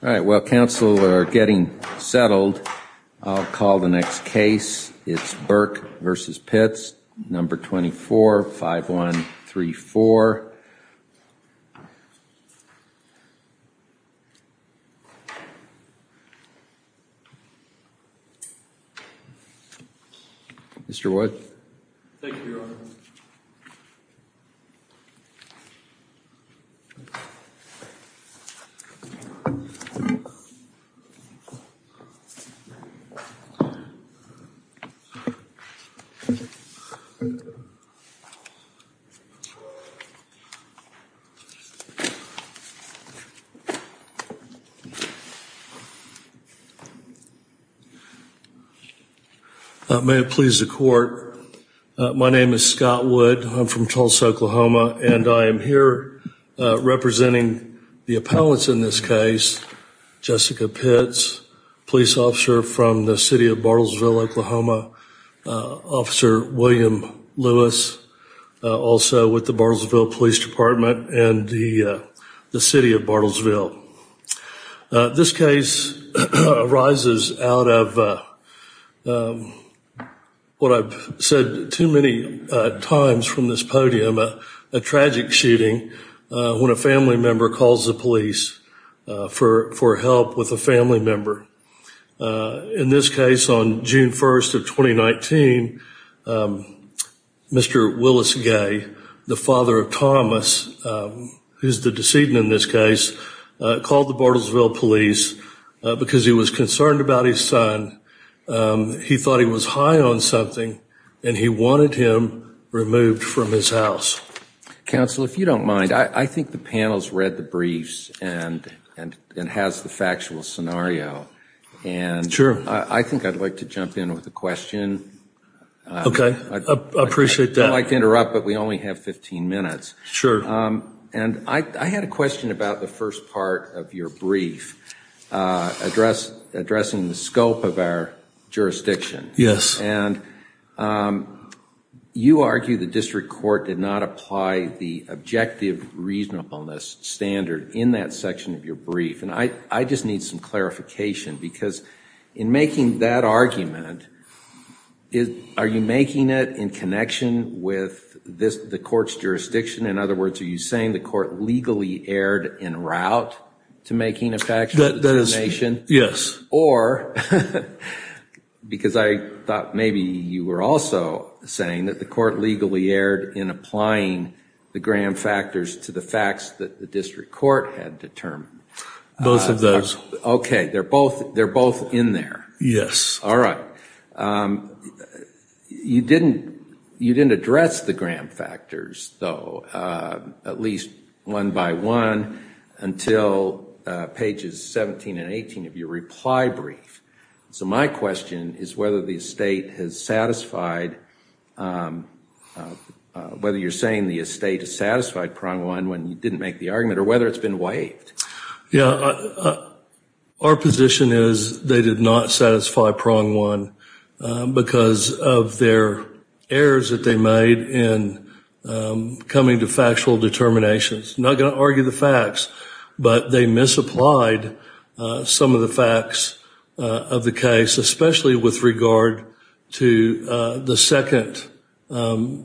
All right, while counsel are getting settled, I'll call the next case. It's Burke v. Pitts, No. 24-5134. Mr. Wood. Thank you, Your Honor. May it please the Court, my name is Scott Wood, I'm from Tulsa, Oklahoma, and I am here representing the appellants in this case, Jessica Pitts, police officer from the City of Bartlesville, Oklahoma, Officer William Lewis, also with the Bartlesville Police Department and the City of Bartlesville. This case arises out of what I've said too many times from this podium, a tragic shooting when a family member calls the police for help with a family member. In this case, on June 1st of 2019, Mr. Willis Gay, the father of Thomas, who's the decedent in this case, called the Bartlesville police because he was concerned about his son. He thought he was high on something and he wanted him removed from his house. Counsel, if you don't mind, I think the panel's read the briefs and has the factual scenario. Sure. I think I'd like to jump in with a question. Okay, I appreciate that. I don't like to interrupt, but we only have 15 minutes. Sure. And I had a question about the first part of your brief, addressing the scope of our jurisdiction. Yes. And you argue the district court did not apply the objective reasonableness standard in that section of your brief. And I just need some clarification because in making that argument, are you making it in connection with the court's jurisdiction? In other words, are you saying the court legally erred in route to making a factual determination? Yes. Or, because I thought maybe you were also saying that the court legally erred in applying the Graham factors to the facts that the district court had determined. Both of those. Okay, they're both in there. Yes. All right. You didn't address the Graham factors, though, at least one by one, until pages 17 and 18 of your reply brief. So my question is whether the estate has satisfied, whether you're saying the estate has satisfied prong one when you didn't make the argument, or whether it's been waived. Yeah. Our position is they did not satisfy prong one because of their errors that they made in coming to factual determinations. Not going to argue the facts, but they misapplied some of the facts of the case, especially with regard to the second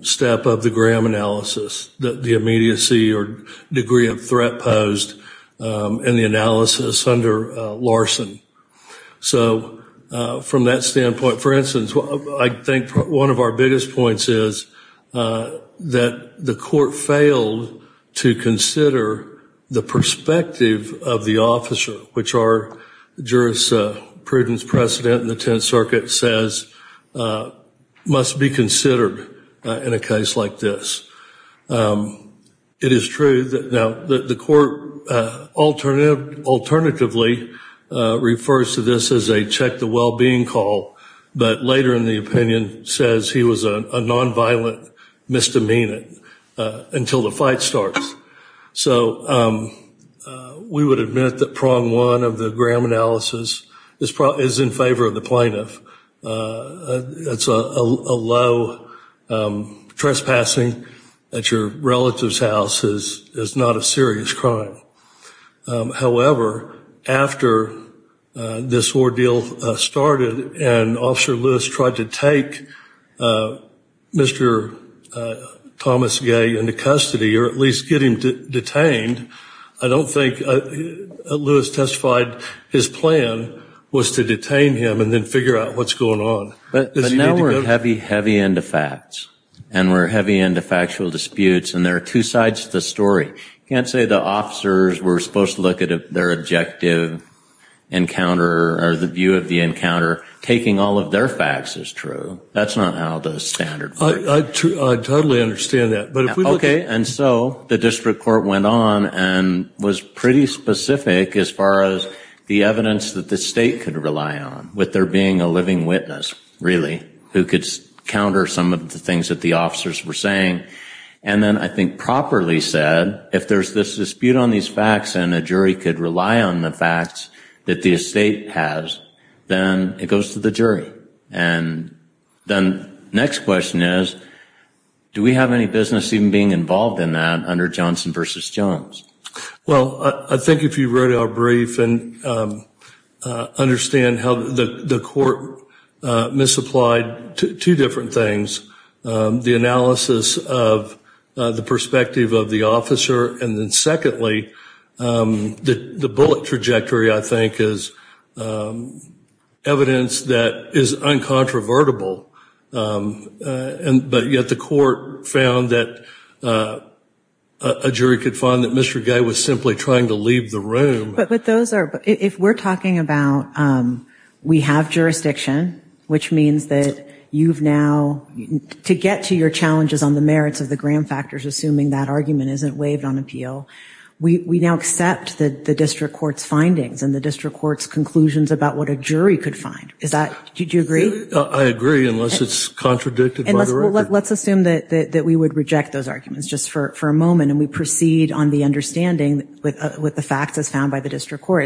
step of the Graham analysis, the immediacy or degree of threat posed in the analysis under Larson. So from that standpoint, for instance, I think one of our biggest points is that the court failed to consider the perspective of the officer, which our jurisprudence precedent in the Tenth Circuit says must be considered in a case like this. It is true that now the court alternatively refers to this as a check the well-being call, but later in the opinion says he was a nonviolent misdemeanor until the fight starts. So we would admit that prong one of the Graham analysis is in favor of the plaintiff. That's a low trespassing at your relative's house is not a serious crime. However, after this ordeal started and Officer Lewis tried to take Mr. Thomas Gay into custody or at least get him detained, I don't think Lewis testified his plan was to detain him and then figure out what's going on. But now we're heavy, heavy into facts and we're heavy into factual disputes and there are two sides to the story. You can't say the officers were supposed to look at their objective encounter or the view of the encounter. Taking all of their facts is true. That's not how the standard works. I totally understand that. OK. And so the district court went on and was pretty specific as far as the evidence that the state could rely on with there being a living witness, really, who could counter some of the things that the officers were saying. And then I think properly said, if there's this dispute on these facts and a jury could rely on the facts that the estate has, then it goes to the jury. And then the next question is, do we have any business even being involved in that under Johnson v. Jones? Well, I think if you read our brief and understand how the court misapplied two different things, the analysis of the perspective of the officer, and then secondly, the bullet trajectory, I think, is evidence that is uncontrovertible. But yet the court found that a jury could find that Mr. Gay was simply trying to leave the room. If we're talking about we have jurisdiction, which means that you've now, to get to your challenges on the merits of the Graham factors, assuming that argument isn't waived on appeal, we now accept the district court's findings and the district court's conclusions about what a jury could find. Did you agree? I agree, unless it's contradicted by the record. Let's assume that we would reject those arguments just for a moment and we proceed on the understanding with the facts as found by the district court.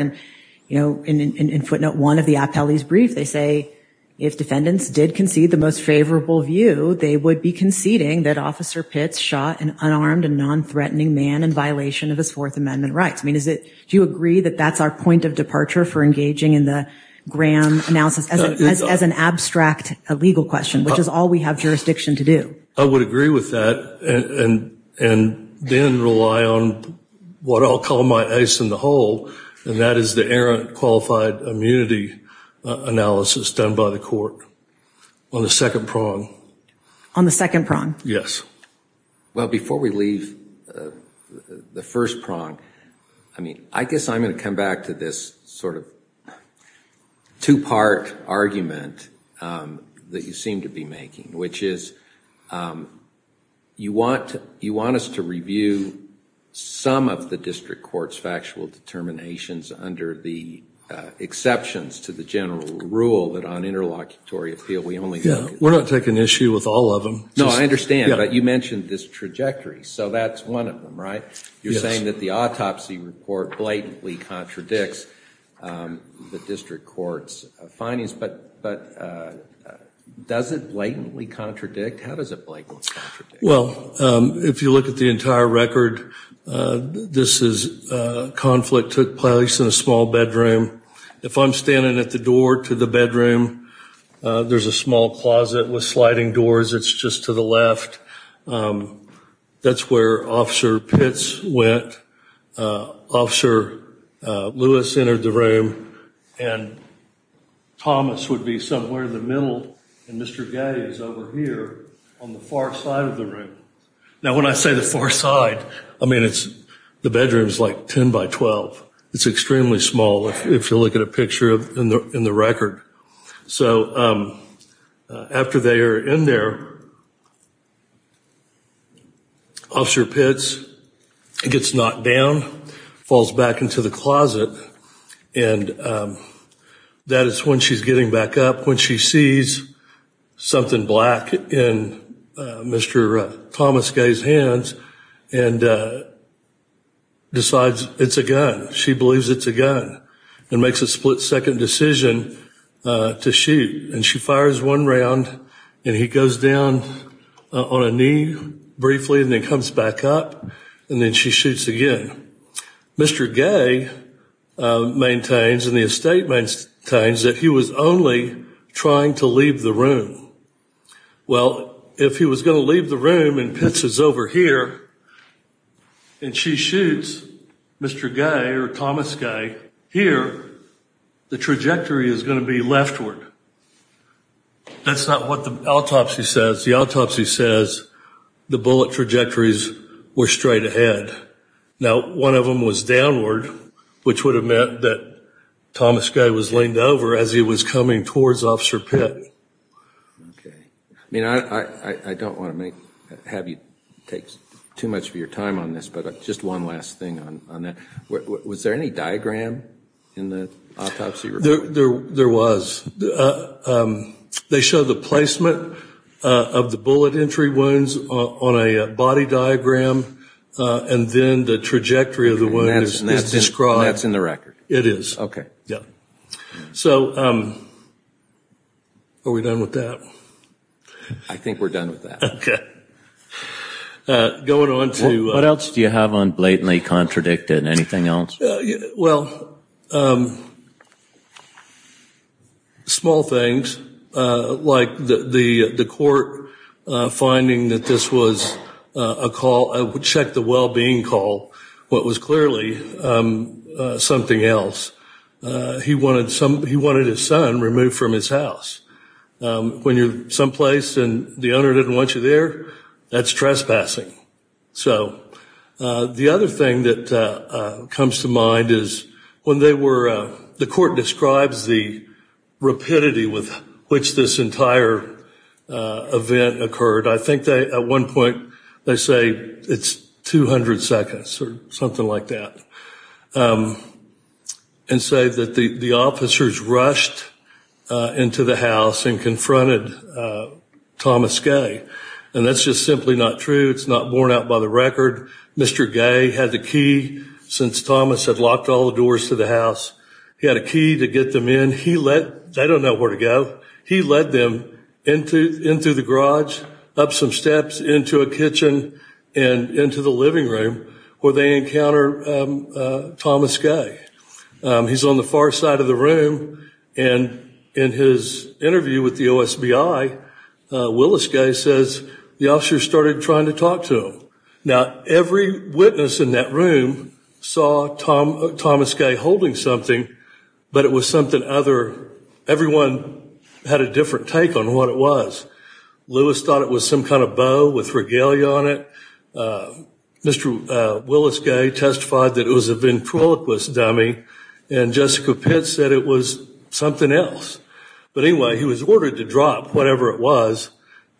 In footnote one of the appellee's brief, they say, if defendants did concede the most favorable view, they would be conceding that Officer Pitts shot an unarmed and non-threatening man in violation of his Fourth Amendment rights. Do you agree that that's our point of departure for engaging in the Graham analysis as an abstract legal question, which is all we have jurisdiction to do? I would agree with that and then rely on what I'll call my ace in the hole, and that is the errant qualified immunity analysis done by the court on the second prong. On the second prong? Yes. Well, before we leave the first prong, I mean, I guess I'm going to come back to this sort of two-part argument that you seem to be making, which is you want us to review some of the district court's factual determinations under the exceptions to the general rule that on interlocutory appeal, we only look at- Yeah, we're not taking issue with all of them. No, I understand, but you mentioned this trajectory, so that's one of them, right? You're saying that the autopsy report blatantly contradicts the district court's findings, but does it blatantly contradict? How does it blatantly contradict? Well, if you look at the entire record, this is a conflict took place in a small bedroom. If I'm standing at the door to the bedroom, there's a small closet with sliding doors that's just to the left. That's where Officer Pitts went. Officer Lewis entered the room, and Thomas would be somewhere in the middle, and Mr. Gay is over here on the far side of the room. Now, when I say the far side, I mean the bedroom's like 10 by 12. It's extremely small if you look at a picture in the record. So after they are in there, Officer Pitts gets knocked down, falls back into the closet, and that is when she's getting back up. When she sees something black in Mr. Thomas Gay's hands and decides it's a gun. She believes it's a gun and makes a split-second decision to shoot. And she fires one round, and he goes down on a knee briefly and then comes back up, and then she shoots again. Mr. Gay maintains, and the estate maintains, that he was only trying to leave the room. Well, if he was going to leave the room and Pitts is over here and she shoots Mr. Gay or Thomas Gay here, the trajectory is going to be leftward. That's not what the autopsy says. The autopsy says the bullet trajectories were straight ahead. Now, one of them was downward, which would have meant that Thomas Gay was leaned over as he was coming towards Officer Pitts. Okay. I mean, I don't want to have you take too much of your time on this, but just one last thing on that. Was there any diagram in the autopsy report? There was. They show the placement of the bullet entry wounds on a body diagram, and then the trajectory of the wound is described. And that's in the record? It is. Okay. Yeah. So are we done with that? I think we're done with that. Okay. Going on to ‑‑ What else do you have on blatantly contradicted? Anything else? Well, small things like the court finding that this was a call, check the well‑being call, what was clearly something else. He wanted his son removed from his house. When you're someplace and the owner didn't want you there, that's trespassing. So the other thing that comes to mind is when they were ‑‑ the court describes the rapidity with which this entire event occurred. I think at one point they say it's 200 seconds or something like that. And say that the officers rushed into the house and confronted Thomas Gay. And that's just simply not true. It's not borne out by the record. Mr. Gay had the key, since Thomas had locked all the doors to the house. He had a key to get them in. He let ‑‑ they don't know where to go. He led them into the garage, up some steps, into a kitchen, and into the living room where they encounter Thomas Gay. He's on the far side of the room. And in his interview with the OSBI, Willis Gay says the officers started trying to talk to him. Now, every witness in that room saw Thomas Gay holding something, but it was something other. Everyone had a different take on what it was. Lewis thought it was some kind of bow with regalia on it. Mr. Willis Gay testified that it was a ventriloquist dummy. And Jessica Pitts said it was something else. But anyway, he was ordered to drop whatever it was.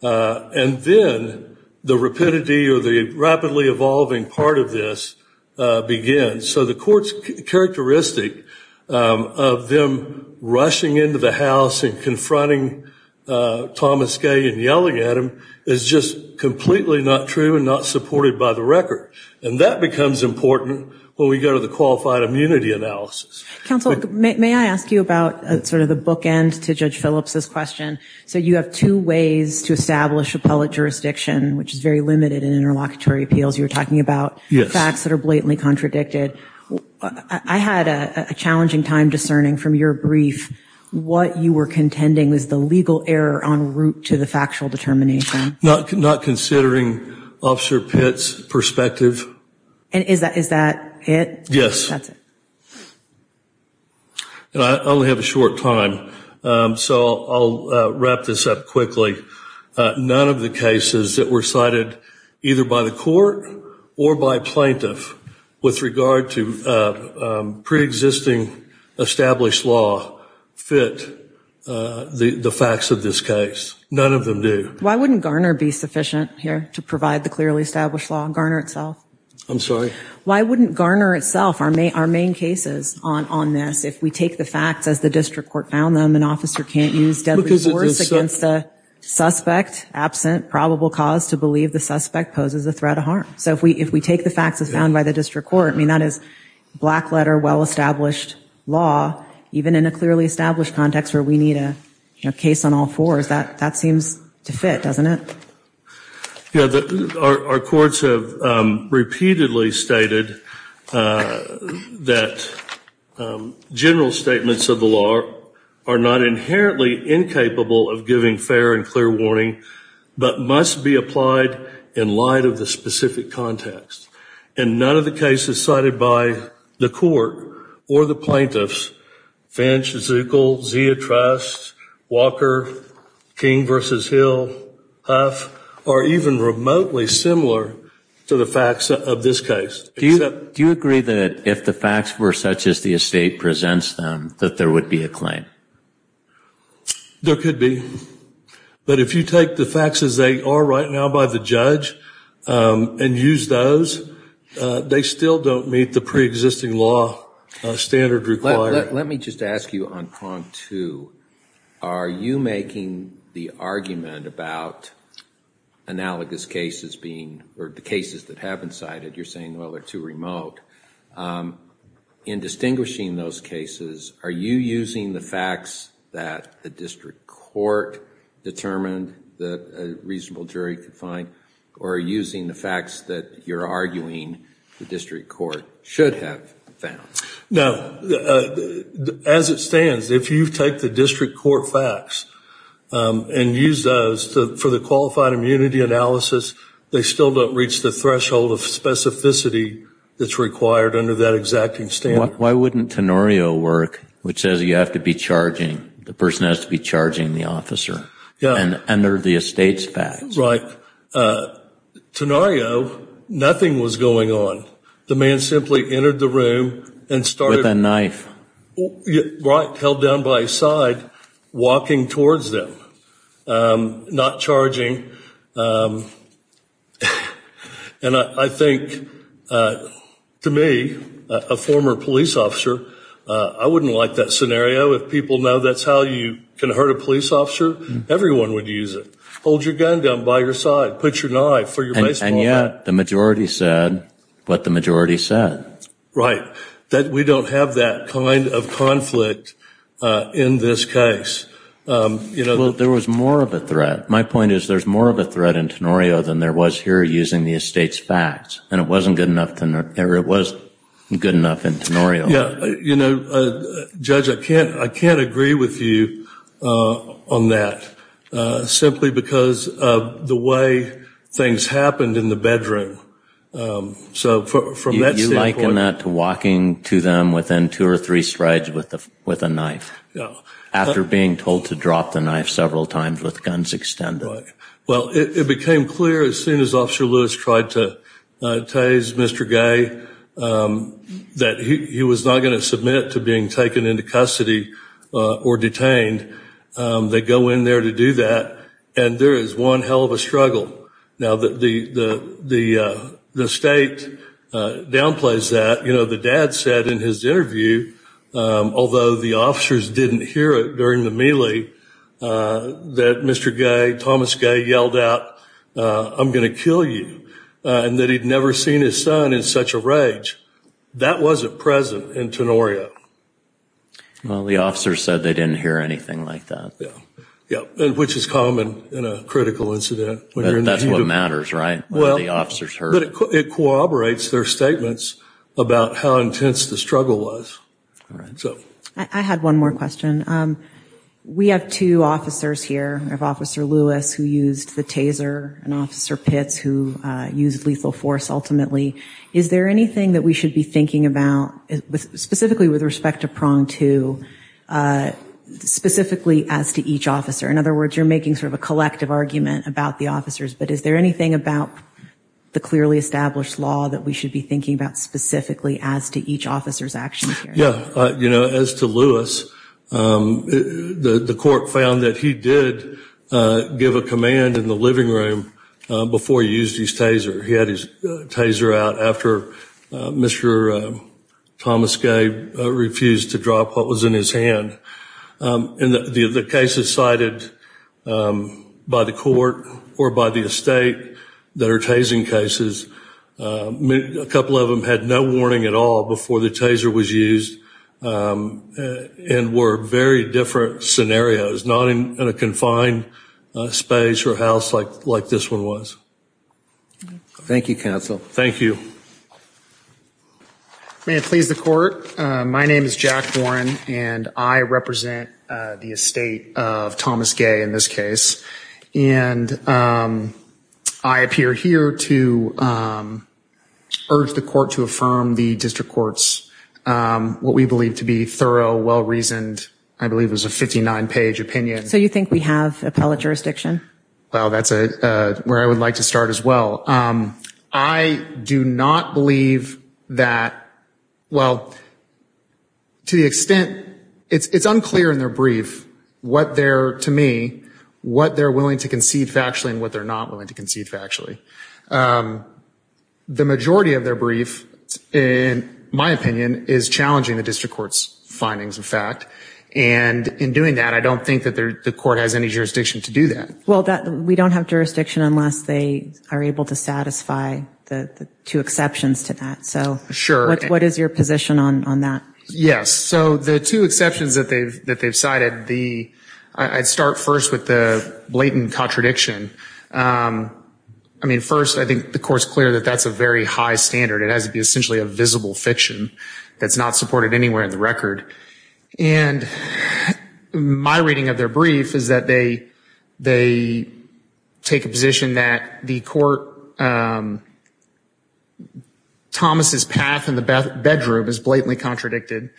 And then the rapidity or the rapidly evolving part of this begins. So the court's characteristic of them rushing into the house and confronting Thomas Gay and yelling at him is just completely not true and not supported by the record. And that becomes important when we go to the qualified immunity analysis. Counsel, may I ask you about sort of the bookend to Judge Phillips' question? So you have two ways to establish appellate jurisdiction, which is very limited in interlocutory appeals. You were talking about facts that are blatantly contradicted. I had a challenging time discerning from your brief what you were contending was the legal error en route to the factual determination. Not considering Officer Pitts' perspective. And is that it? Yes. That's it. I only have a short time, so I'll wrap this up quickly. None of the cases that were cited either by the court or by plaintiff with regard to preexisting established law fit the facts of this case. None of them do. Why wouldn't Garner be sufficient here to provide the clearly established law, Garner itself? I'm sorry? Why wouldn't Garner itself, our main cases on this, if we take the facts as the district court found them, an officer can't use deadly force against a suspect absent probable cause to believe the suspect poses a threat of harm. So if we take the facts as found by the district court, I mean, that is black letter, well-established law, even in a clearly established context where we need a case on all fours, that seems to fit, doesn't it? Our courts have repeatedly stated that general statements of the law are not inherently incapable of giving fair and clear warning, but must be applied in light of the specific context. And none of the cases cited by the court or the plaintiffs, Finch, Zuckel, Zia Trust, Walker, King v. Hill, Huff, are even remotely similar to the facts of this case. Do you agree that if the facts were such as the estate presents them, that there would be a claim? There could be. But if you take the facts as they are right now by the judge and use those, they still don't meet the pre-existing law standard required. Let me just ask you on prong two. Are you making the argument about analogous cases being, or the cases that have been cited, you're saying, well, they're too remote. In distinguishing those cases, are you using the facts that the district court determined that a reasonable jury could find, or are you using the facts that you're arguing the district court should have found? No. As it stands, if you take the district court facts and use those for the qualified immunity analysis, they still don't reach the threshold of specificity that's required under that exacting standard. Why wouldn't Tenorio work, which says you have to be charging, the person has to be charging the officer, and enter the estate's facts? Right. Tenorio, nothing was going on. The man simply entered the room and started. With a knife. Right, held down by his side, walking towards them. Not charging. And I think, to me, a former police officer, I wouldn't like that scenario. If people know that's how you can hurt a police officer, everyone would use it. Hold your gun down by your side, put your knife for your baseball bat. And yet, the majority said what the majority said. Right. That we don't have that kind of conflict in this case. Well, there was more of a threat. My point is there's more of a threat in Tenorio than there was here using the estate's facts. And it wasn't good enough in Tenorio. You know, Judge, I can't agree with you on that. Simply because of the way things happened in the bedroom. You liken that to walking to them within two or three strides with a knife. After being told to drop the knife several times with guns extended. Well, it became clear as soon as Officer Lewis tried to tase Mr. Gay, that he was not going to submit to being taken into custody or detained. They go in there to do that. And there is one hell of a struggle. Now, the estate downplays that. You know, the dad said in his interview, although the officers didn't hear it during the melee, that Mr. Gay, Thomas Gay, yelled out, I'm going to kill you. And that he'd never seen his son in such a rage. That wasn't present in Tenorio. Well, the officers said they didn't hear anything like that. Which is common in a critical incident. That's what matters, right? The officers heard it. It corroborates their statements about how intense the struggle was. I had one more question. We have two officers here, we have Officer Lewis who used the taser and Officer Pitts who used lethal force ultimately. Is there anything that we should be thinking about, specifically with respect to prong two, specifically as to each officer? In other words, you're making sort of a collective argument about the officers, but is there anything about the clearly established law that we should be thinking about specifically as to each officer's actions here? Yeah. You know, as to Lewis, the court found that he did give a command in the living room before he used his taser. He had his taser out after Mr. Thomas Gay refused to drop what was in his hand. And the cases cited by the court or by the estate that are tasing cases, a couple of them had no warning at all before the taser was used and were very different scenarios, not in a confined space or house like this one was. Thank you, counsel. Thank you. May it please the court, my name is Jack Warren, and I represent the estate of Thomas Gay in this case. And I appear here to urge the court to affirm the district court's what we believe to be thorough, well-reasoned, I believe it was a 59-page opinion. So you think we have appellate jurisdiction? Well, that's where I would like to start as well. I do not believe that, well, to the extent, it's unclear in their brief what their, to me, what they're willing to concede factually and what they're not willing to concede factually. The majority of their brief, in my opinion, is challenging the district court's findings of fact. And in doing that, I don't think that the court has any jurisdiction to do that. Well, we don't have jurisdiction unless they are able to satisfy the two exceptions to that. So what is your position on that? Yes. So the two exceptions that they've cited, I'd start first with the blatant contradiction. I mean, first, I think the court's clear that that's a very high standard. It has to be essentially a visible fiction that's not supported anywhere in the record. And my reading of their brief is that they take a position that the court, Thomas' path in the bedroom is blatantly contradicted.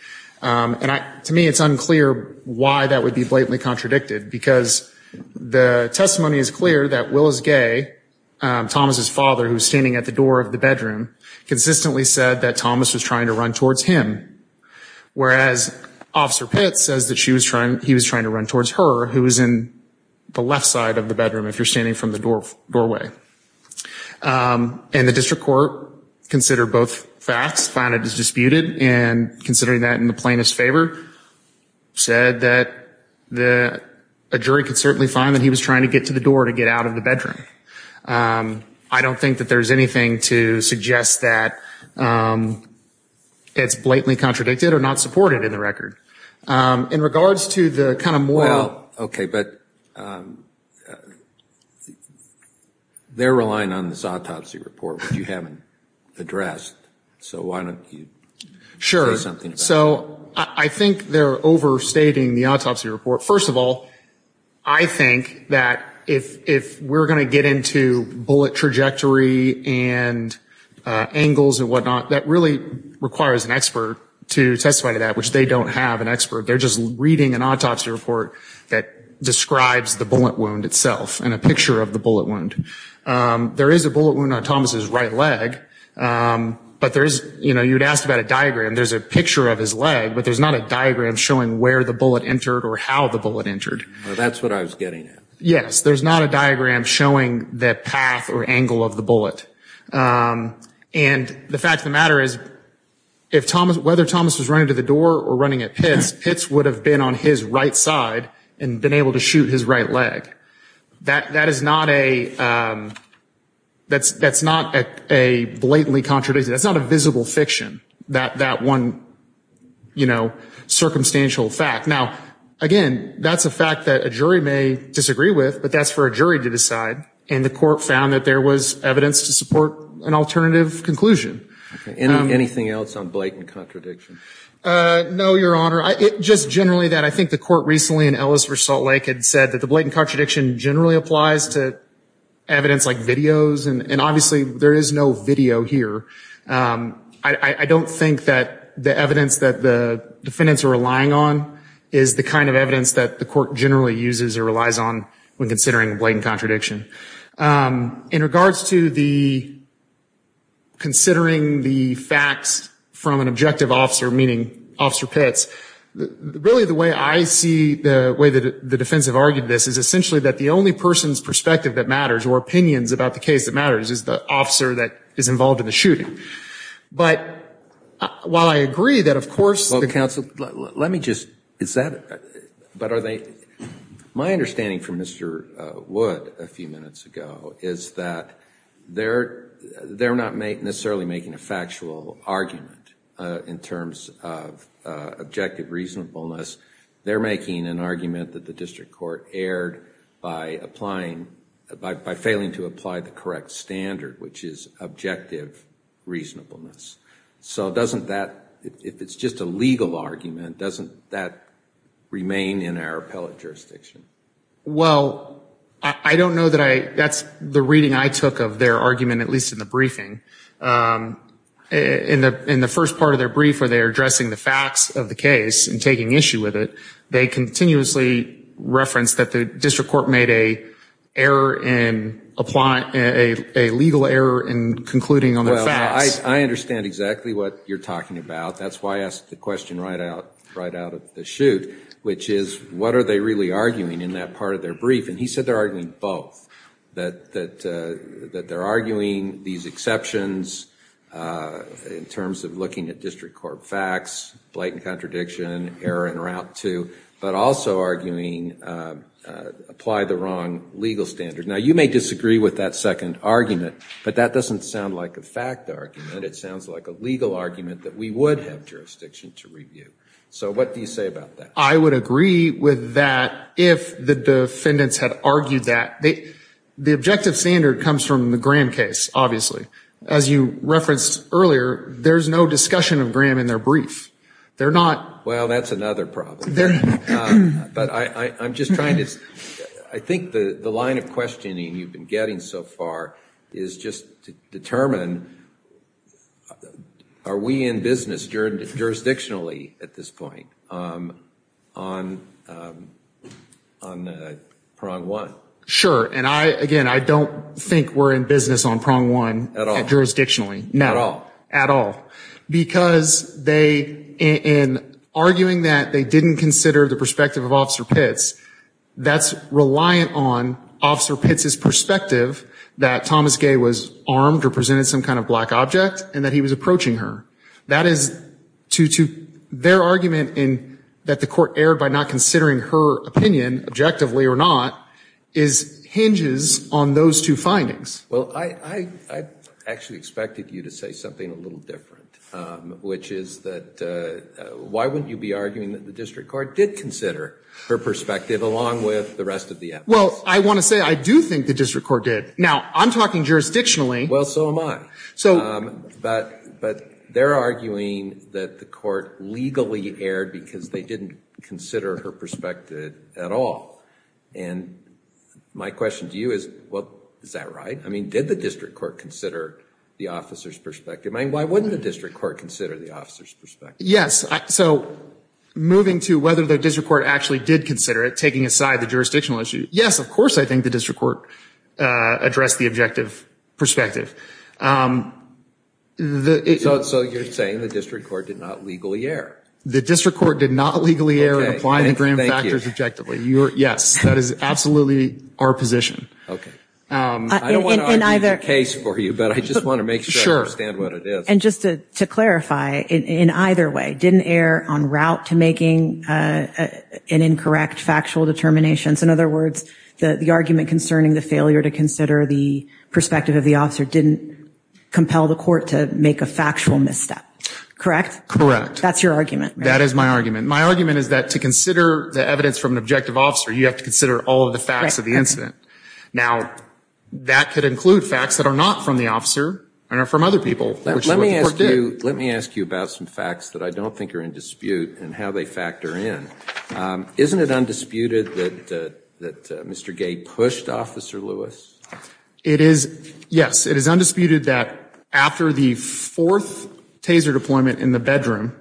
And to me, it's unclear why that would be blatantly contradicted, because the testimony is clear that Willis Gay, Thomas' father, who's standing at the door of the bedroom, consistently said that Thomas was trying to run towards him. Whereas Officer Pitt says that he was trying to run towards her, who was in the left side of the bedroom, if you're standing from the doorway. And the district court, considering both facts, found it as disputed, and considering that in the plainest favor, said that a jury could certainly find that he was trying to get to the door to get out of the bedroom. I don't think that there's anything to suggest that it's blatantly contradicted or not supported in the record. In regards to the kind of moral... Well, okay, but they're relying on this autopsy report, which you haven't addressed. So why don't you say something about that? Sure. So I think they're overstating the autopsy report. First of all, I think that if we're going to get into bullet trajectory and angles and whatnot, that really requires an expert to testify to that, which they don't have an expert. They're just reading an autopsy report that describes the bullet wound itself and a picture of the bullet wound. There is a bullet wound on Thomas' right leg, but there is, you know, you'd ask about a diagram. There's a picture of his leg, but there's not a diagram showing where the bullet entered or how the bullet entered. That's what I was getting at. Yes, there's not a diagram showing the path or angle of the bullet. And the fact of the matter is, whether Thomas was running to the door or running at Pitts, Pitts would have been on his right side and been able to shoot his right leg. That is not a blatantly contradiction. That's not a visible fiction, that one, you know, circumstantial fact. Now, again, that's a fact that a jury may disagree with, but that's for a jury to decide. And the court found that there was evidence to support an alternative conclusion. Anything else on blatant contradiction? No, Your Honor. Just generally that I think the court recently in Ellis v. Salt Lake had said that the blatant contradiction generally applies to evidence like videos. And obviously there is no video here. I don't think that the evidence that the defendants are relying on is the kind of evidence that the court generally uses or relies on when considering blatant contradiction. In regards to the considering the facts from an objective officer, meaning Officer Pitts, really the way I see, the way the defense have argued this is essentially that the only person's perspective that matters or opinions about the case that matters is the officer that is involved in the shooting. But while I agree that, of course, the counsel, let me just, is that, but are they, my understanding from Mr. Wood a few minutes ago is that they're not necessarily making a factual argument in terms of objectives. They're making an argument that the district court erred by applying, by failing to apply the correct standard, which is objective reasonableness. So doesn't that, if it's just a legal argument, doesn't that remain in our appellate jurisdiction? Well, I don't know that I, that's the reading I took of their argument, at least in the briefing. In the first part of their brief where they're addressing the facts of the case and taking issue with it, they continuously referenced that the district court made a error in applying, a legal error in concluding on their facts. Well, I understand exactly what you're talking about. That's why I asked the question right out of the shoot, which is what are they really arguing in that part of their brief? And he said they're arguing both, that they're arguing these exceptions in terms of looking at district court facts, blatant contradiction, error in route two, but also arguing apply the wrong legal standard. Now, you may disagree with that second argument, but that doesn't sound like a fact argument. It sounds like a legal argument that we would have jurisdiction to review. So what do you say about that? I would agree with that if the defendants had argued that. The objective standard comes from the Graham case, obviously. As you referenced earlier, there's no discussion of Graham in their brief. They're not. Well, that's another problem. But I'm just trying to, I think the line of questioning you've been getting so far is just to determine are we in business jurisdictionally at this point? Are we in business on prong one? Sure, and again, I don't think we're in business on prong one jurisdictionally. No, at all, because in arguing that they didn't consider the perspective of Officer Pitts, that's reliant on Officer Pitts' perspective that Thomas Gay was armed or presented some kind of black object and that he was approaching her. That is to their argument that the court erred by not considering her opinion, objectively or not, hinges on those two findings. Well, I actually expected you to say something a little different, which is that why wouldn't you be arguing that the district court did consider her perspective along with the rest of the evidence? Well, I want to say I do think the district court did. Now, I'm talking jurisdictionally. Well, so am I. But they're arguing that the court legally erred because they didn't consider her perspective at all. And my question to you is, well, is that right? I mean, did the district court consider the officer's perspective? I mean, why wouldn't the district court consider the officer's perspective? Yes, so moving to whether the district court actually did consider it, taking aside the jurisdictional issue, yes, of course, I think the district court addressed the objective perspective. So you're saying the district court did not legally err? The district court did not legally err in applying the grand factors objectively. Yes, that is absolutely our position. I don't want to argue the case for you, but I just want to make sure I understand what it is. And just to clarify, in either way, didn't err en route to making an incorrect factual determination? In other words, the argument concerning the failure to consider the perspective of the officer didn't compel the court to make a factual misstep, correct? That's your argument. That is my argument. My argument is that to consider the evidence from an objective officer, you have to consider all of the facts of the incident. Now, that could include facts that are not from the officer and are from other people. Let me ask you about some facts that I don't think are in dispute and how they factor in. Isn't it undisputed that Mr. Gay pushed Officer Lewis? It is, yes, it is undisputed that after the fourth taser deployment in the bedroom,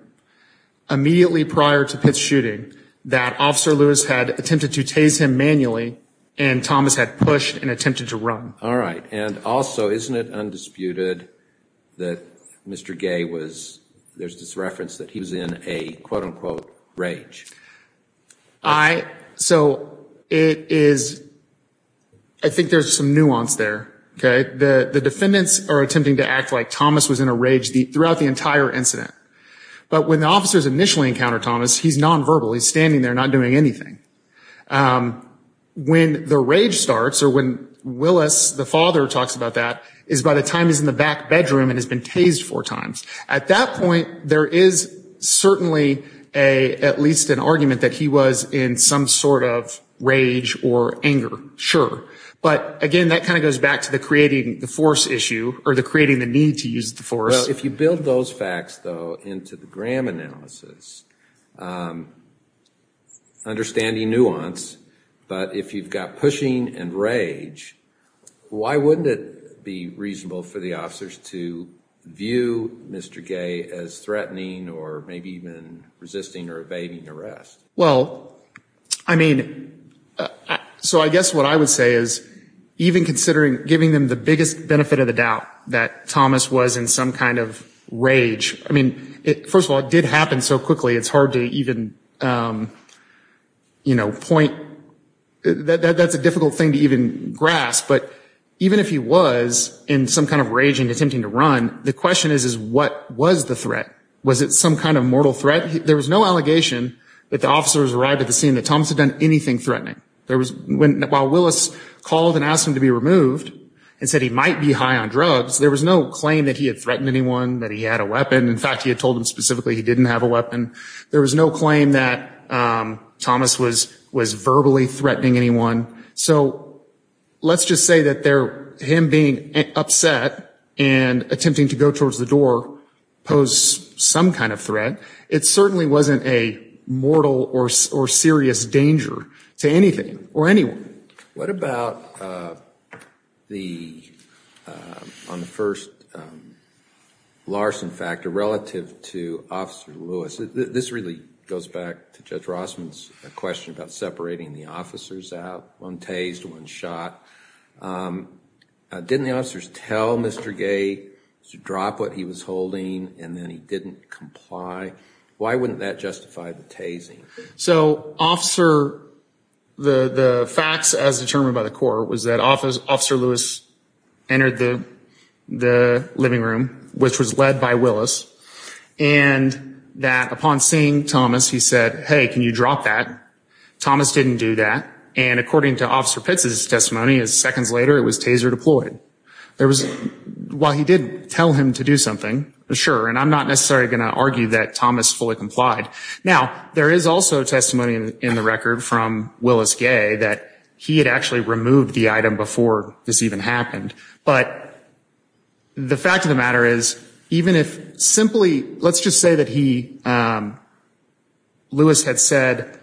immediately prior to Pitt's shooting, that Officer Lewis had attempted to tase him manually and Thomas had pushed and attempted to run. All right. And also, isn't it undisputed that Mr. Gay was, there's this reference that he was in a quote-unquote rage? All right. So it is, I think there's some nuance there, okay? The defendants are attempting to act like Thomas was in a rage throughout the entire incident. But when the officers initially encounter Thomas, he's non-verbal. He's standing there not doing anything. When the rage starts or when Willis, the father, talks about that is by the time he's in the back bedroom and has been tased four times. At that point, there is certainly at least an argument that he was in some sort of rage or anger, sure. But again, that kind of goes back to the creating the force issue or the creating the need to use the force. If you build those facts, though, into the Graham analysis, understanding nuance, but if you've got pushing and rage, why wouldn't it be reasonable for the officers to view Mr. Gay as threatening or maybe even resisting or evading arrest? Well, I mean, so I guess what I would say is even considering giving them the biggest benefit of the doubt that Thomas was in some kind of rage. I mean, first of all, it did happen so quickly, it's hard to even, you know, point. That's a difficult thing to even grasp. But even if he was in some kind of rage and attempting to run, the question is, is what was the threat? Was it some kind of mortal threat? There was no allegation that the officers arrived at the scene that Thomas had done anything threatening. While Willis called and asked him to be removed and said he might be high on drugs, there was no claim that he had threatened anyone, that he had a weapon. In fact, he had told him specifically he didn't have a weapon. There was no claim that Thomas was verbally threatening anyone. So let's just say that him being upset and attempting to go towards the door posed some kind of threat. It certainly wasn't a mortal or serious danger to anything or anyone. What about the, on the first, Larson fact, arrest? Relative to Officer Lewis, this really goes back to Judge Rossman's question about separating the officers out. One tased, one shot. Didn't the officers tell Mr. Gay to drop what he was holding and then he didn't comply? Why wouldn't that justify the tasing? So, Officer, the facts as determined by the court was that Officer Lewis entered the living room, which was led by Willis. And that upon seeing Thomas, he said, hey, can you drop that? Thomas didn't do that. And according to Officer Pitts' testimony, seconds later it was taser deployed. While he did tell him to do something, sure, and I'm not necessarily going to argue that Thomas fully complied. Now, there is also testimony in the record from Willis Gay that he had actually removed the item before this even happened. But the fact of the matter is, even if simply, let's just say that he, Lewis had said,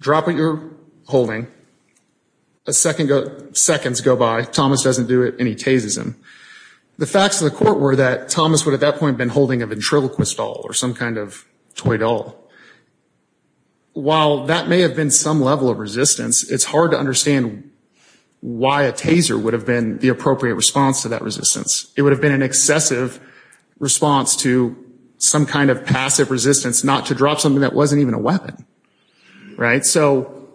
drop what you're holding. Seconds go by, Thomas doesn't do it and he tases him. The facts of the court were that Thomas would at that point have been holding a ventriloquist doll or some kind of toy doll. While that may have been some level of resistance, it's hard to understand why a taser would have been the appropriate response. It would have been an excessive response to some kind of passive resistance, not to drop something that wasn't even a weapon. So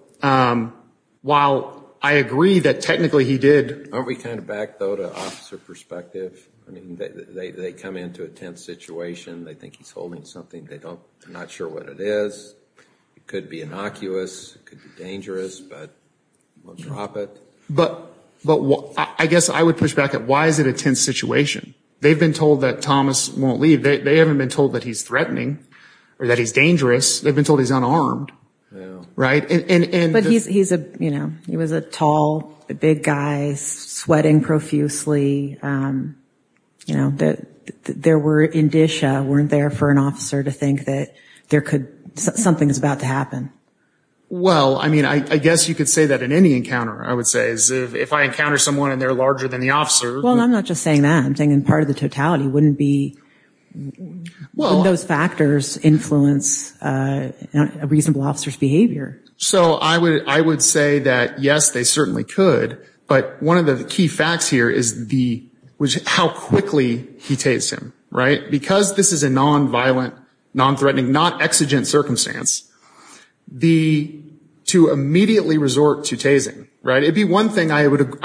while I agree that technically he did... Aren't we kind of back, though, to officer perspective? They come into a tense situation, they think he's holding something, they're not sure what it is. It could be innocuous, it could be dangerous, but we'll drop it. But I guess I would push back at why is it a tense situation? They've been told that Thomas won't leave. They haven't been told that he's threatening or that he's dangerous. They've been told he's unarmed. He was a tall, big guy, sweating profusely. There were indicia, weren't there, for an officer to think that something is about to happen? Well, I mean, I guess you could say that in any encounter, I would say. If I encounter someone and they're larger than the officer... Well, I'm not just saying that. I'm saying in part of the totality, wouldn't those factors influence a reasonable officer's behavior? So I would say that, yes, they certainly could. But one of the key facts here is how quickly he tased him, right? Because this is a nonviolent, nonthreatening, not exigent circumstance, to immediately resort to tasing, right? It would be one thing, I would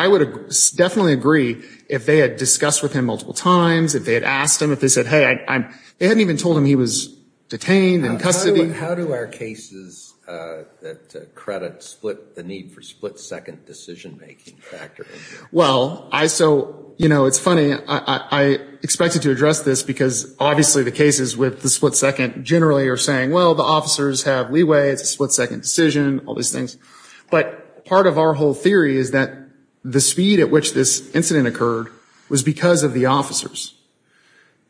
definitely agree, if they had discussed with him multiple times, if they had asked him, if they said, hey, I'm... They hadn't even told him he was detained in custody. How do our cases that credit split the need for split-second decision-making factors? Well, I... So, you know, it's funny. I expected to address this because obviously the cases with the split-second generally are saying, well, the officers have leeway, it's a split-second decision, all these things. But part of our whole theory is that the speed at which this incident occurred was because of the officers.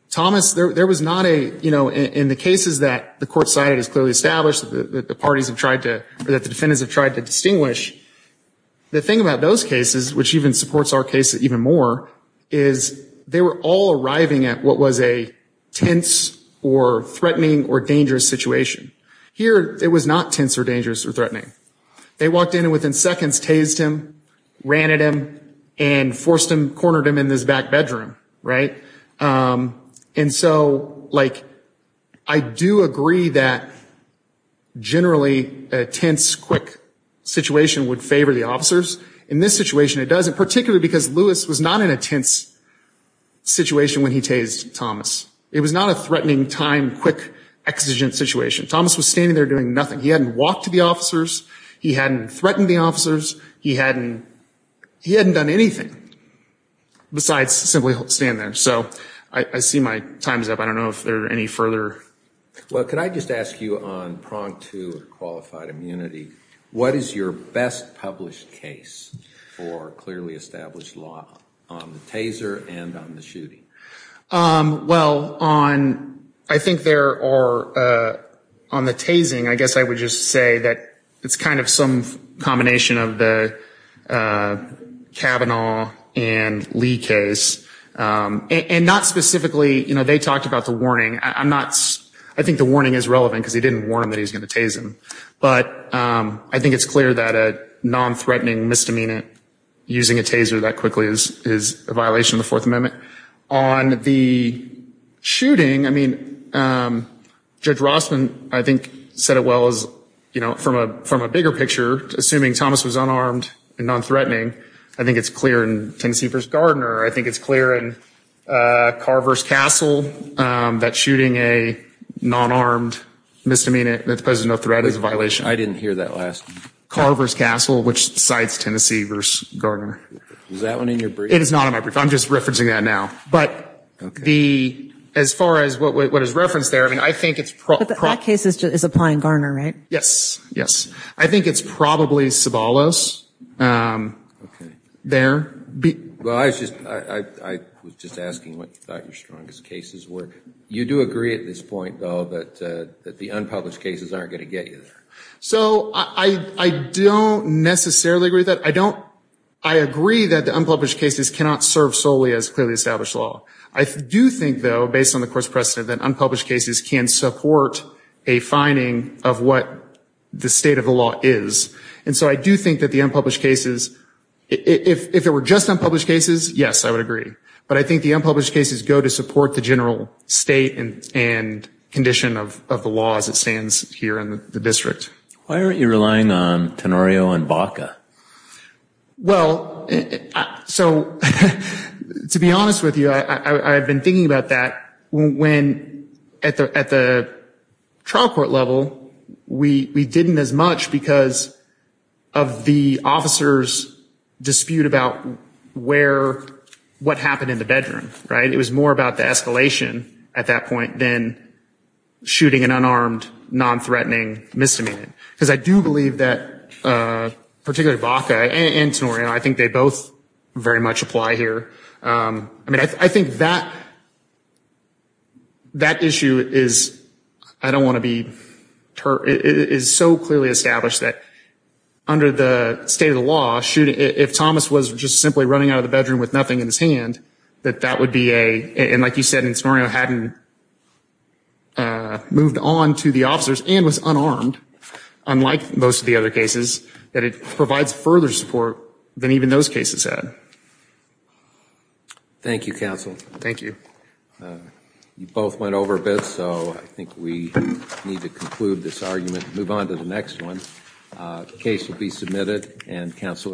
Thomas, there was not a... You know, in the cases that the court cited as clearly established, that the parties have tried to... Or that the defendants have tried to distinguish, the thing about those cases, which even supports our case even more, is they were all arriving at what was a tense or threatening or dangerous situation. Here, it was not tense or dangerous or threatening. They walked in and within seconds tased him, ran at him and forced him, cornered him in this back bedroom, right? And so, like, I do agree that generally a tense, quick situation would favor the officers. In this situation, it doesn't, particularly because Lewis was not in a tense situation when he tased Thomas. It was not a threatening, time, quick, exigent situation. Thomas was standing there doing nothing. He hadn't walked to the officers, he hadn't threatened the officers, he hadn't done anything besides simply stand there. So, I see my time's up. I don't know if there are any further... Well, could I just ask you on prong two, qualified immunity, what is your best published case for clearly established law on the taser and on the shooting? Well, on, I think there are, on the tasing, I guess I would just say that it's kind of some combination of the Kavanaugh and Lee case. And not specifically, you know, they talked about the warning. I'm not, I think the warning is relevant because they didn't warn him that he was going to tase him. But I think it's clear that a non-threatening misdemeanor using a taser that quickly is a violation of the Fourth Amendment. On the shooting, I mean, Judge Rossman, I think, said it well as, you know, from a bigger picture, assuming Thomas was unarmed and non-threatening. I think it's clear in Tennessee v. Gardner. I think it's clear in Carver's Castle that shooting a non-armed misdemeanor that poses no threat is a violation of the Fourth Amendment. I didn't hear that last. Carver's Castle, which cites Tennessee v. Gardner. Is that one in your brief? It is not in my brief. I'm just referencing that now. But the, as far as what is referenced there, I mean, I think it's But that case is applying Gardner, right? Yes, yes. I think it's probably Sabalos there. Well, I was just asking what you thought your strongest cases were. You do agree at this point, though, that the unpublished cases aren't going to get you there. So I don't necessarily agree with that. I agree that the unpublished cases cannot serve solely as clearly established law. I do think, though, based on the course precedent, that unpublished cases can support a finding of what the state of the law is. And so I do think that the unpublished cases, if there were just unpublished cases, yes, I would agree. But I think the unpublished cases go to support the general state and condition of the law as it stands here in the district. Why aren't you relying on Tenorio and Baca? Well, so to be honest with you, I've been thinking about that when, at the trial court level, we didn't as much because of the officers' dispute about where, what happened in the bedroom, right? It was more about the escalation at that point than shooting an unarmed, nonthreatening misdemeanor. Because I do believe that, particularly Baca and Tenorio, I think they both very much apply here. I mean, I think that issue is, I don't want to be, is so clearly established that under the state of the law, if Thomas was just simply running out of the bedroom with nothing in his hand, that that would be a, and like you said, and Tenorio hadn't moved on to the officers and was unarmed, unlike most of the other cases, that it provides further support than even those cases had. Thank you, counsel. Thank you. You both went over a bit, so I think we need to conclude this argument and move on to the next one. The case will be submitted and counsel are excused.